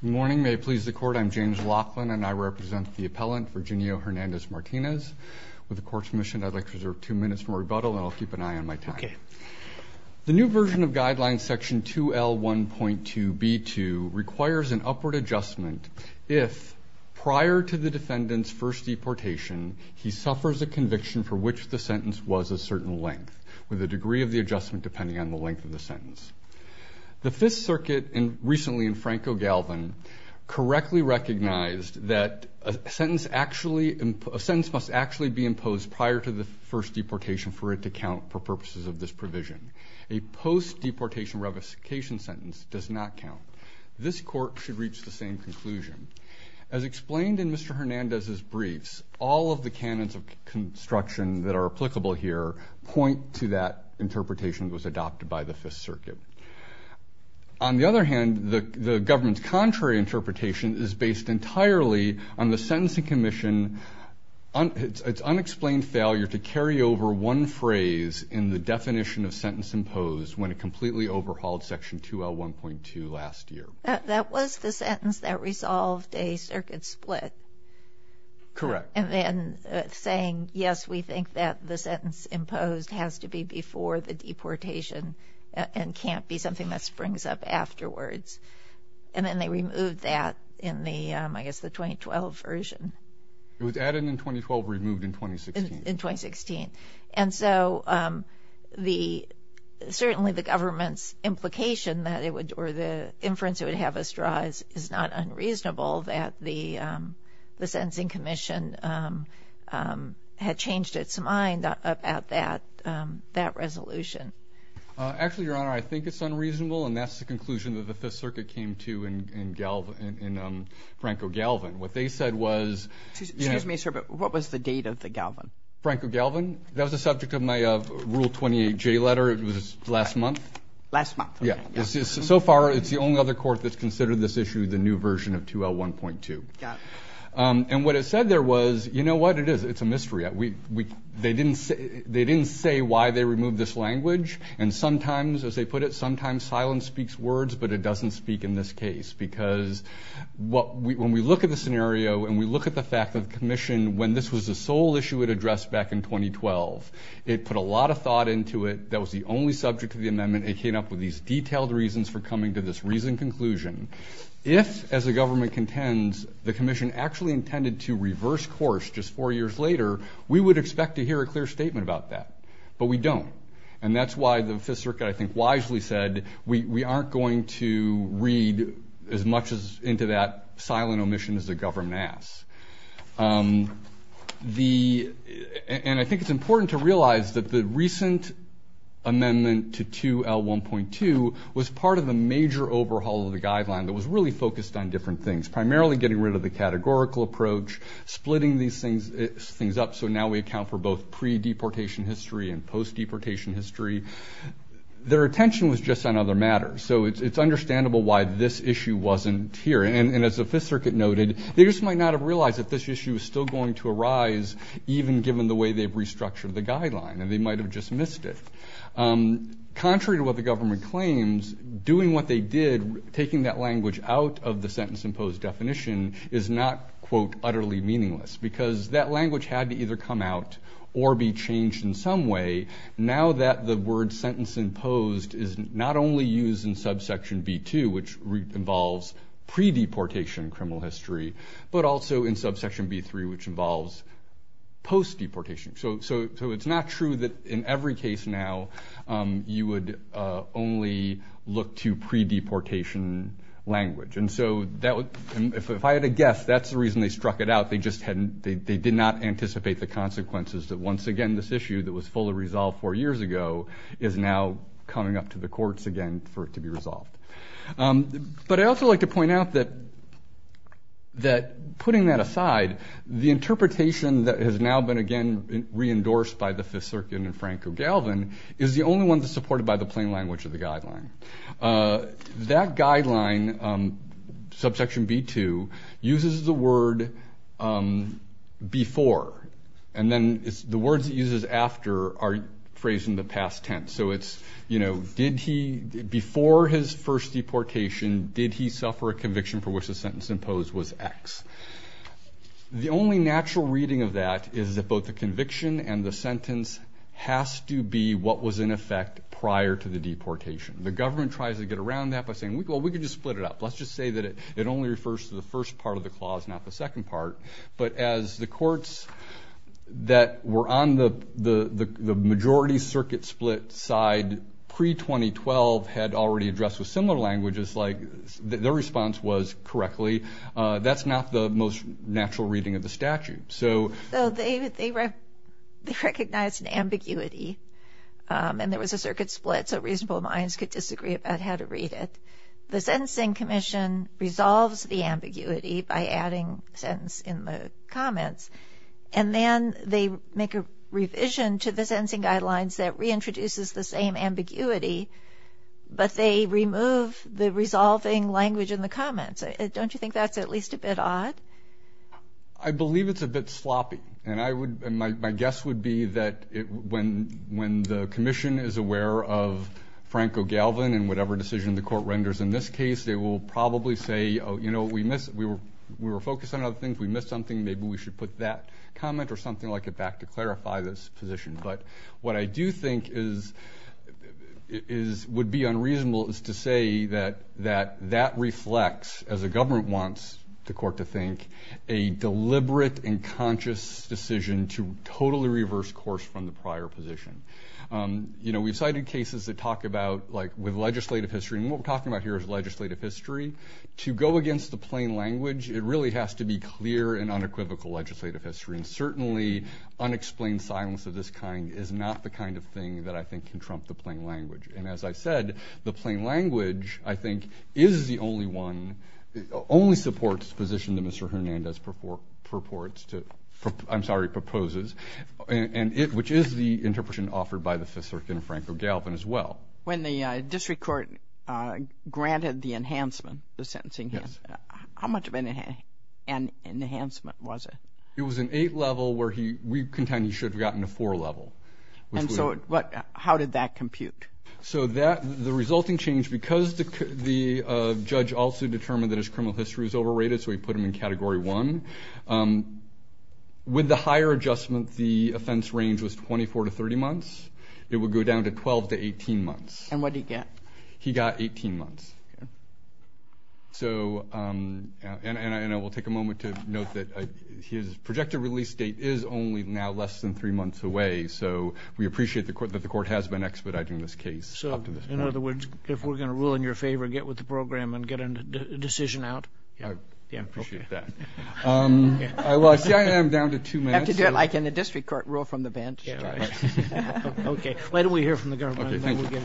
Good morning. May it please the court, I'm James Laughlin and I represent the appellant Virginio Hernandez Martinez. With the court's permission, I'd like to reserve two minutes from rebuttal and I'll keep an eye on my time. Okay. The new version of guideline section 2L1.2b2 requires an upward adjustment if, prior to the defendant's first deportation, he suffers a conviction for which the sentence was a certain length, with a degree of the defendant, Franco Galvin, correctly recognized that a sentence must actually be imposed prior to the first deportation for it to count for purposes of this provision. A post-deportation revocation sentence does not count. This court should reach the same conclusion. As explained in Mr. Hernandez's briefs, all of the canons of construction that are applicable here point to that interpretation was adopted by the Fifth Circuit. On the other hand, the government's contrary interpretation is based entirely on the Sentencing Commission's unexplained failure to carry over one phrase in the definition of sentence imposed when it completely overhauled section 2L1.2 last year. That was the sentence that resolved a circuit split? Correct. And then saying, yes, we think that the sentence imposed has to be before the deportation and can't be something that springs up afterwards. And then they removed that in the, I guess, the 2012 version. It was added in 2012, removed in 2016. In 2016. And so the, certainly the government's implication that it would, or the inference it would have us draw is not unreasonable that the Sentencing Commission had changed its mind about that resolution. Actually, Your Honor, I think it's unreasonable and that's the conclusion that the Fifth Circuit came to in Franco-Galvin. What they said was... Excuse me, sir, but what was the date of the Galvin? Franco-Galvin? That was the subject of my Rule 28J letter. It was last month. Last month. Yeah. So far, it's the only other court that's considered this issue the new version of 2L1.2. Yeah. And what it said there was, you know what? It is. It's a mystery. They didn't say why they removed this language. And sometimes, as they put it, sometimes silence speaks words, but it doesn't speak in this case. Because when we look at the scenario and we look at the fact that the Commission, when this was the sole issue it addressed back in 2012, it put a lot of thought into it. That was the only subject of the amendment. It came up with these detailed reasons for coming to this reasoned conclusion. If, as the government contends, the Commission actually intended to reverse course just four years later, we would expect to hear a clear statement about that. But we don't. And that's why the Fifth Circuit, I think, wisely said, we aren't going to read as much as into that silent omission as the government asks. And I think it's important to realize that the recent amendment to 2L1.2 was part of the major overhaul of the guideline that was really focused on different things, primarily getting rid of the categorical approach, splitting these things up so now we account for both pre-deportation history and post-deportation history. Their attention was just on other matters. So it's understandable why this issue wasn't here. And as the Fifth Circuit noted, they just might not have realized that this issue was still going to arise, even given the way they've restructured the guideline. And they might have just missed it. Contrary to what the government claims, doing what they did, taking that language out of the sentence-imposed definition is not, quote, utterly meaningless. Because that language had to either come out or be changed in some way. Now that the word sentence-imposed is not only used in subsection B2, which involves pre-deportation criminal history, but also in subsection B3, which involves post-deportation. So it's not true that in every case now you would only look to pre-deportation language. And so if I had to guess, that's the reason they struck it out. They did not anticipate the consequences that, once again, this issue that was fully the courts again for it to be resolved. But I also like to point out that putting that aside, the interpretation that has now been, again, re-endorsed by the Fifth Circuit and Franco-Galvin is the only one that's supported by the plain language of the guideline. That guideline, subsection B2, uses the word before. And then the words it uses after are phrased in the past tense. So it's, before his first deportation, did he suffer a conviction for which the sentence imposed was X. The only natural reading of that is that both the conviction and the sentence has to be what was in effect prior to the deportation. The government tries to get around that by saying, well, we could just split it up. Let's just say that it only refers to the first part of the pre-2012 had already addressed with similar languages, like the response was correctly. That's not the most natural reading of the statute. So they recognized an ambiguity and there was a circuit split, so reasonable minds could disagree about how to read it. The Sentencing Commission resolves the ambiguity by adding sentence in the comments. And then they make a revision to the same ambiguity, but they remove the resolving language in the comments. Don't you think that's at least a bit odd? I believe it's a bit sloppy. And I would, my guess would be that it, when, when the commission is aware of Franco Galvin and whatever decision the court renders in this case, they will probably say, oh, you know, we missed, we were, we were focused on other things. We missed something. Maybe we should put that comment or something like it back to clarify this position. But what I do think is, is, would be unreasonable is to say that, that that reflects, as a government wants the court to think, a deliberate and conscious decision to totally reverse course from the prior position. You know, we've cited cases that talk about, like with legislative history, and what we're talking about here is legislative history. To go against the plain language, it really has to be clear and unequivocal legislative history, and certainly unexplained silence of this kind is not the kind of thing that I think can trump the plain language. And as I said, the plain language, I think, is the only one, only supports position that Mr. Hernandez purports to, I'm sorry, proposes, and it, which is the interpretation offered by the Fifth Circuit and Franco Galvin as well. When the district court granted the enhancement, the sentencing, how much of an enhancement was it? It was an eight level where he, we contend he should have gotten a four level. And so what, how did that compute? So that, the resulting change, because the judge also determined that his criminal history was overrated, so he put him in category one. With the higher adjustment, the offense range was 24 to 30 months. It would go down to 12 to 18 months. And what did he get? He got 18 months. So, and I will take a moment to note that his projected release date is only now less than three months away. So we appreciate the court, that the court has been expediting this case. So in other words, if we're going to rule in your favor, get with the program and get a decision out. I appreciate that. I am down to two minutes. You have to do it like in the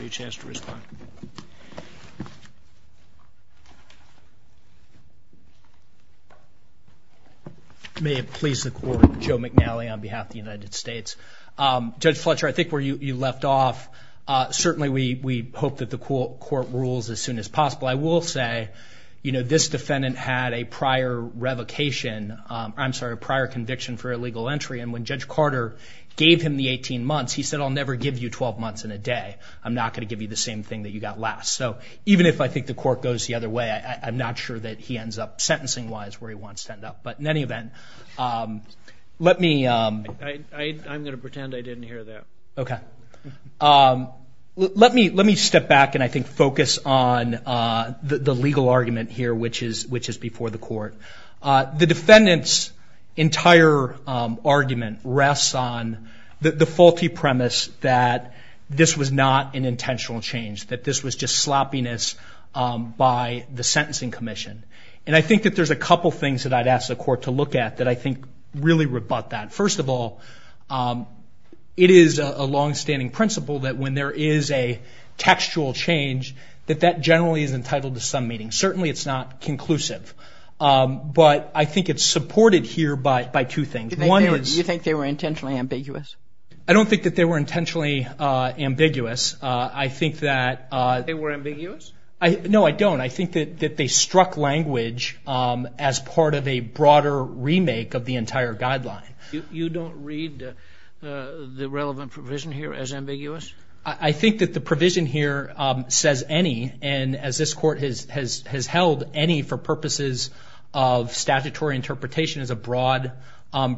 past to respond. May it please the court, Joe McNally on behalf of the United States. Judge Fletcher, I think where you left off, certainly we hope that the court rules as soon as possible. I will say, you know, this defendant had a prior revocation, I'm sorry, a prior conviction for illegal entry. And when Judge Carter gave him the 18 months and a day, I'm not going to give you the same thing that you got last. So even if I think the court goes the other way, I'm not sure that he ends up, sentencing-wise, where he wants to end up. But in any event, let me, I'm going to pretend I didn't hear that. Okay. Let me, let me step back and I think focus on the legal argument here, which is, which is before the court. The defendant's entire argument rests on the faulty premise that this was not an intentional change, that this was just sloppiness by the sentencing commission. And I think that there's a couple things that I'd ask the court to look at that I think really rebut that. First of all, it is a longstanding principle that when there is a textual change, that that generally is entitled to some meaning. Certainly it's not conclusive. But I think it's supported here by, by two things. You think they were intentionally ambiguous. I think that... They were ambiguous? No, I don't. I think that they struck language as part of a broader remake of the entire guideline. You don't read the relevant provision here as ambiguous? I think that the provision here says any, and as this court has held, any for purposes of statutory interpretation is a broad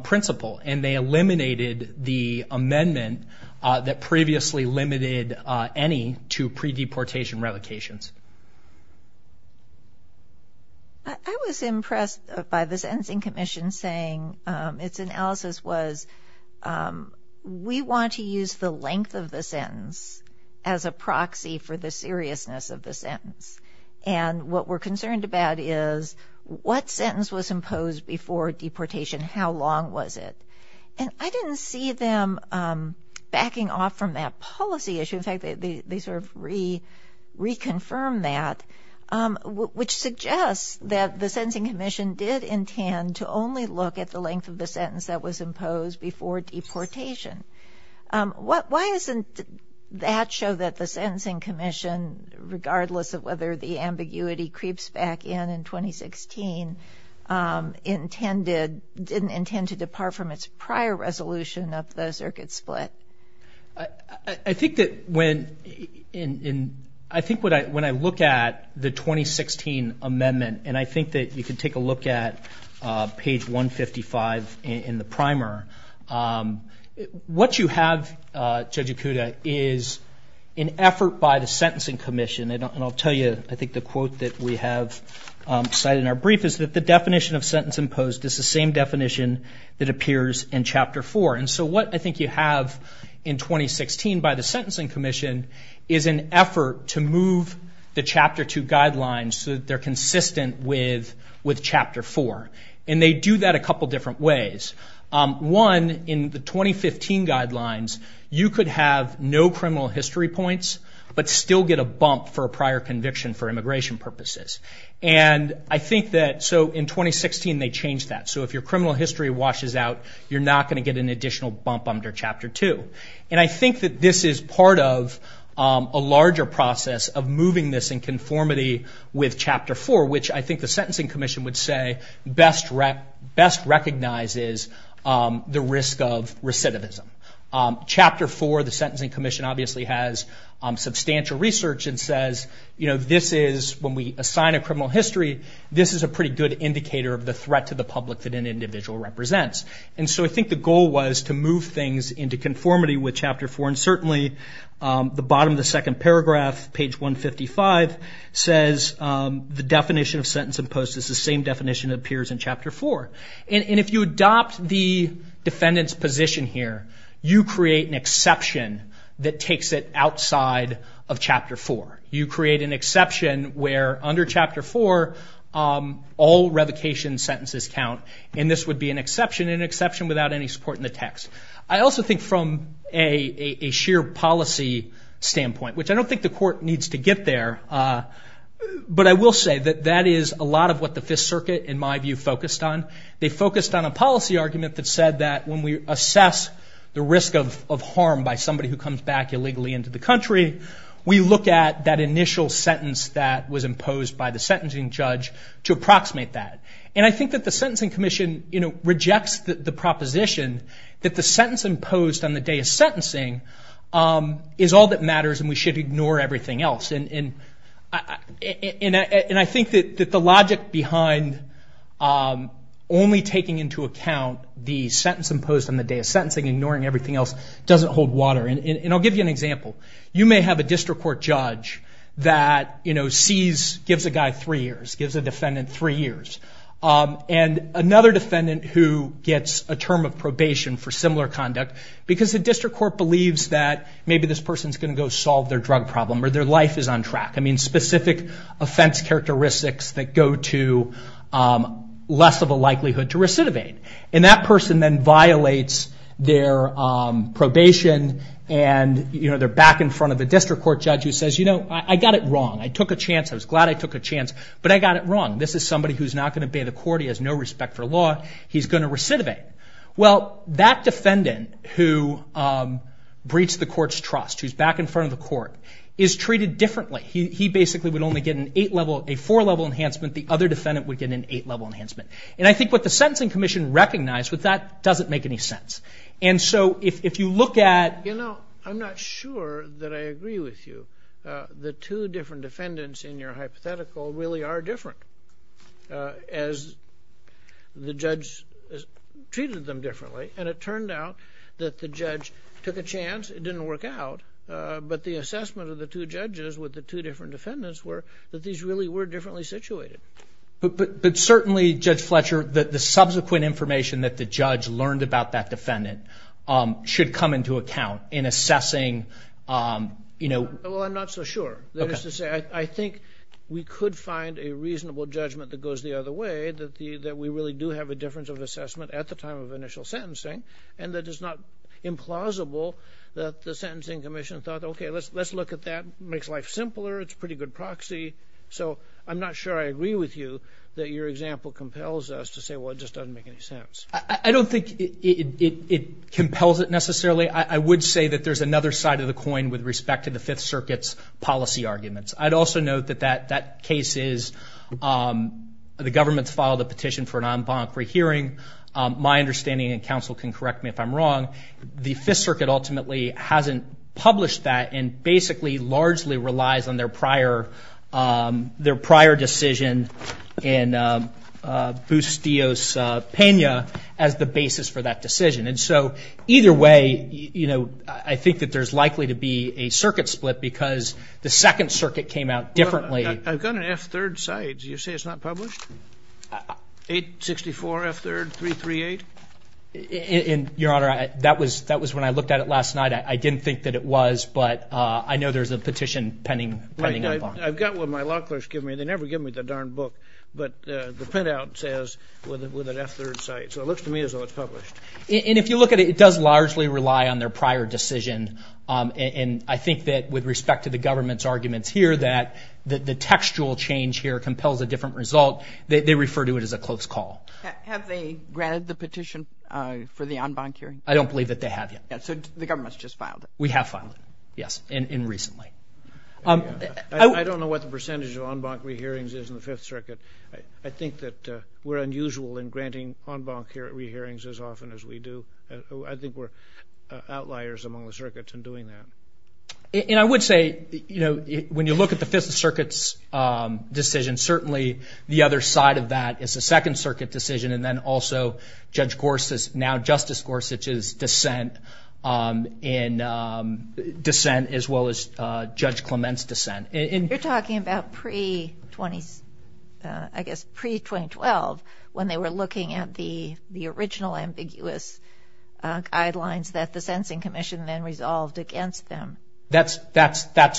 principle. And they eliminated the amendment that previously limited any to pre-deportation revocations. I was impressed by the sentencing commission saying its analysis was, we want to use the length of the sentence as a proxy for the seriousness of the sentence. And what we're concerned about is, what sentence was imposed before deportation? How long was it? And I didn't see them backing off from that policy issue. In fact, they sort of reconfirmed that, which suggests that the sentencing commission did intend to only look at the length of the sentence that was imposed before deportation. Why isn't that show that the sentencing commission, regardless of whether the ambiguity creeps back in in 2016, didn't intend to depart from its prior resolution of the circuit split? I think that when I look at the 2016 amendment, and I think that you can take a look at page 155 in the primer, what you have, Judge Ikuda, is an effort by the sentencing commission. And I'll tell you, I think the quote that we have cited in our brief is that the definition of sentence imposed is the same definition that appears in Chapter 4. And so what I think you have in 2016 by the sentencing commission is an effort to move the Chapter 2 guidelines so that they're consistent with Chapter 4. And they do that a couple different ways. One, in the 2015 guidelines, you could have no criminal history points, but still get a bump for a prior conviction for immigration purposes. And I think that, so in 2016, they changed that. So if your criminal history washes out, you're not going to get an additional bump under Chapter 2. And I think that this is part of a larger process of moving this in conformity with Chapter 4, which I think the sentencing commission would say best recognizes the sentencing commission obviously has substantial research and says, you know, this is, when we assign a criminal history, this is a pretty good indicator of the threat to the public that an individual represents. And so I think the goal was to move things into conformity with Chapter 4. And certainly, the bottom of the second paragraph, page 155, says the definition of sentence imposed is the same definition that appears in that takes it outside of Chapter 4. You create an exception where under Chapter 4, all revocation sentences count. And this would be an exception, an exception without any support in the text. I also think from a sheer policy standpoint, which I don't think the court needs to get there, but I will say that that is a lot of what the Fifth Circuit, in my view, focused on. They focused on a policy argument that said that when we assess the risk of harm by somebody who comes back illegally into the country, we look at that initial sentence that was imposed by the sentencing judge to approximate that. And I think that the sentencing commission, you know, rejects the proposition that the sentence imposed on the day of sentencing is all that matters and we should ignore everything else. And I think that the logic behind only taking into account the sentence imposed on the day of And I'll give you an example. You may have a district court judge that, you know, gives a guy three years, gives a defendant three years, and another defendant who gets a term of probation for similar conduct because the district court believes that maybe this person is going to go solve their drug problem or their life is on track. I mean, specific offense characteristics that go to less of a likelihood to recidivate. And that person then gets probation and, you know, they're back in front of a district court judge who says, you know, I got it wrong. I took a chance. I was glad I took a chance, but I got it wrong. This is somebody who's not going to obey the court. He has no respect for law. He's going to recidivate. Well, that defendant who breached the court's trust, who's back in front of the court, is treated differently. He basically would only get an eight-level, a four-level enhancement. The other defendant would get an eight-level enhancement. And I think what the sentencing commission recognized with that doesn't make any sense. And so if you look at... You know, I'm not sure that I agree with you. The two different defendants in your hypothetical really are different, as the judge treated them differently. And it turned out that the judge took a chance. It didn't work out. But the assessment of the two judges with the two different defendants were that these really were differently situated. But certainly, Judge Fletcher, the subsequent information that the judge learned about that defendant should come into account in assessing, you know... Well, I'm not so sure. That is to say, I think we could find a reasonable judgment that goes the other way, that we really do have a difference of assessment at the time of initial sentencing. And that it's not implausible that the sentencing commission thought, okay, let's look at that. It makes life simpler. It's a pretty good proxy. So I'm not sure I agree with you that your example compels us to say, well, it just doesn't make any sense. I don't think it compels it necessarily. I would say that there's another side of the coin with respect to the Fifth Circuit's policy arguments. I'd also note that that case is... The government's filed a petition for an en banc rehearing. My understanding, and counsel can correct me if I'm wrong, the Fifth Circuit ultimately hasn't published that and basically largely relies on their prior decision in Bustios-Pena as the basis for that decision. And so either way, you know, I think that there's likely to be a circuit split because the Second Circuit came out differently. I've got an F-3rd cite. You say it's not published? 864 F-3rd 338? Your Honor, that was when I looked at it last night. I didn't give me the darn book. But the printout says with an F-3rd cite. So it looks to me as though it's published. And if you look at it, it does largely rely on their prior decision. And I think that with respect to the government's arguments here that the textual change here compels a different result. They refer to it as a close call. Have they granted the petition for the en banc hearing? I don't believe that they have yet. So the government's just filed it? We have filed it, yes, and I think that we're unusual in granting en banc re-hearings as often as we do. I think we're outliers among the circuits in doing that. And I would say, you know, when you look at the Fifth Circuit's decision, certainly the other side of that is the Second Circuit decision and then also Judge Gorsuch, now Justice Gorsuch's dissent as well as Judge Clement's dissent. You're talking about pre-2012 when they were looking at the original ambiguous guidelines that the Sensing Commission then resolved against them. That's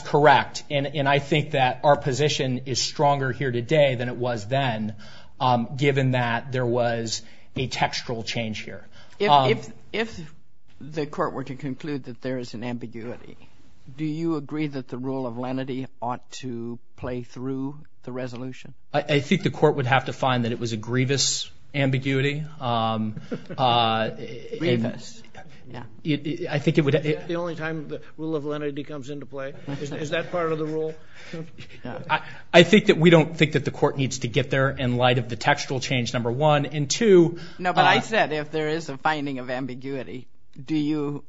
correct. And I think that our position is stronger here today than it was then, given that there was a textual change here. If the court were to conclude that there is an ambiguity, do you agree that the rule of lenity ought to play through the resolution? I think the court would have to find that it was a grievous ambiguity. Grievous, yeah. The only time the rule of lenity comes into play. Is that part of the rule? I think that we don't think that the court needs to get there in light of the textual change, number one. And two... No, but I said if there is a finding of ambiguity, do you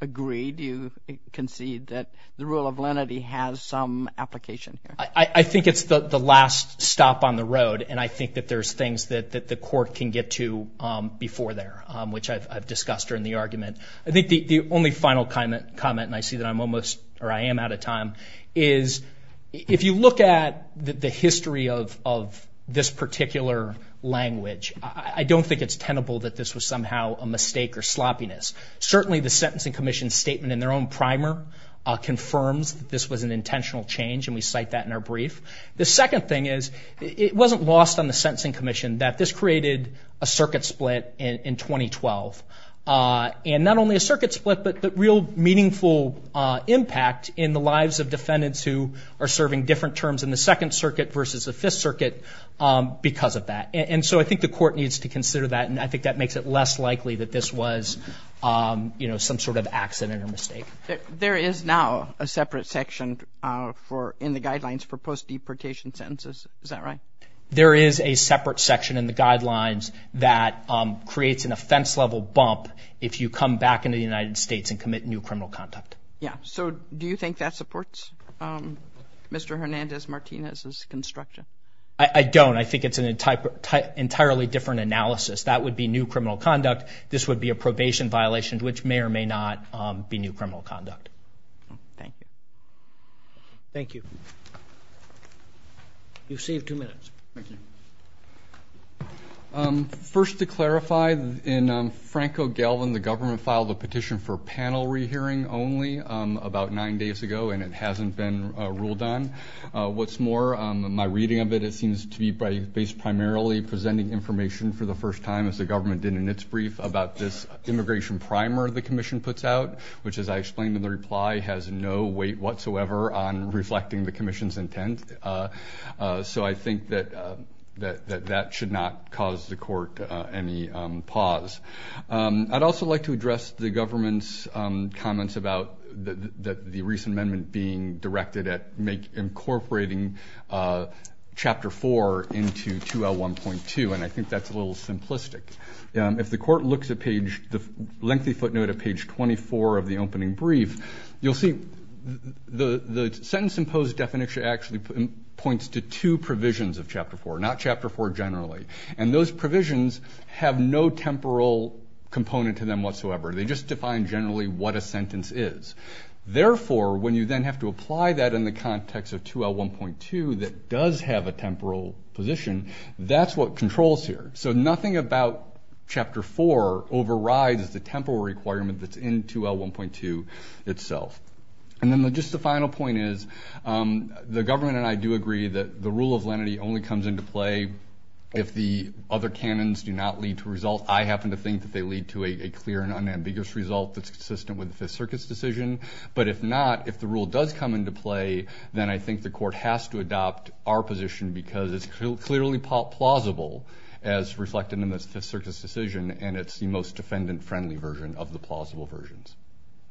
agree, do you concede that the rule of lenity has some application here? I think it's the last stop on the road. And I think that there's things that the court can get to before there, which I've discussed during the argument. I think the only final comment, and I see that I'm almost or I am out of time, is if you look at the history of this particular language, I don't think it's tenable that this was somehow a mistake or sloppiness. Certainly, the Sentencing Commission's statement in their own primer confirms that this was an intentional change, and we cite that in our brief. The second thing is, it wasn't lost on the Sentencing Commission that this created a circuit split in 2012. And not only a circuit split, but real meaningful impact in the lives of defendants who are serving different terms in the Second Circuit versus the Fifth Circuit because of that. And so I think the court needs to consider that, and I think that makes it less likely that this was some sort of accident or mistake. There is now a separate section in the guidelines for post-deportation sentences, is that right? There is a separate section in the guidelines that creates an offense-level bump if you come back into the United States and commit new criminal conduct. Yeah, so do you think that supports Mr. Hernandez-Martinez's construction? I don't. I think it's an entirely different analysis. That would be new criminal conduct. This would be a probation violation, which may or may not be new criminal conduct. Thank you. Thank you. You've saved two minutes. Thank you. First, to clarify, in Franco-Galvin, the government filed a petition for panel re-hearing only about nine days ago, and it hasn't been ruled on. What's more, my reading of it, it seems to be based primarily presenting information for the first time, as the government did in its brief, about this immigration primer the commission puts out, which, as I explained in the reply, has no weight whatsoever on reflecting the commission's intent. So I think that that should not cause the court any pause. I'd also like to address the government's comments about the recent amendment being directed at incorporating Chapter 4 into 2L1.2, and I think that's a little simplistic. If the court looks at the lengthy footnote at page 24 of the opening brief, you'll see the sentence-imposed definition actually points to two provisions of Chapter 4, not Chapter 4 generally, and those provisions have no temporal component to them whatsoever. They just define generally what a sentence is. Therefore, when you then have to apply that in the context of 2L1.2 that does have a temporal position, that's what controls here. So nothing about Chapter 4 overrides the temporal requirement that's in 2L1.2 itself. And then just the final point is the government and I do agree that the rule of lenity only comes into play if the other canons do not lead to a result. I happen to think that they lead to a clear and unambiguous result that's consistent with the Fifth Circuit's decision. But if not, if the rule does come into play, then I think the court has to adopt our position because it's clearly plausible as reflected in the Fifth Circuit's decision, and it's the most defendant-friendly version of the plausible versions.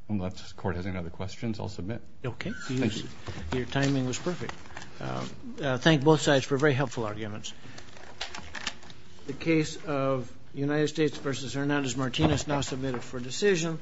Unless the court has any other questions, I'll submit. Okay. Thank you. Your timing was perfect. Thank both sides for very helpful arguments. The case of United States v. Hernandez-Martinez now submitted for decision.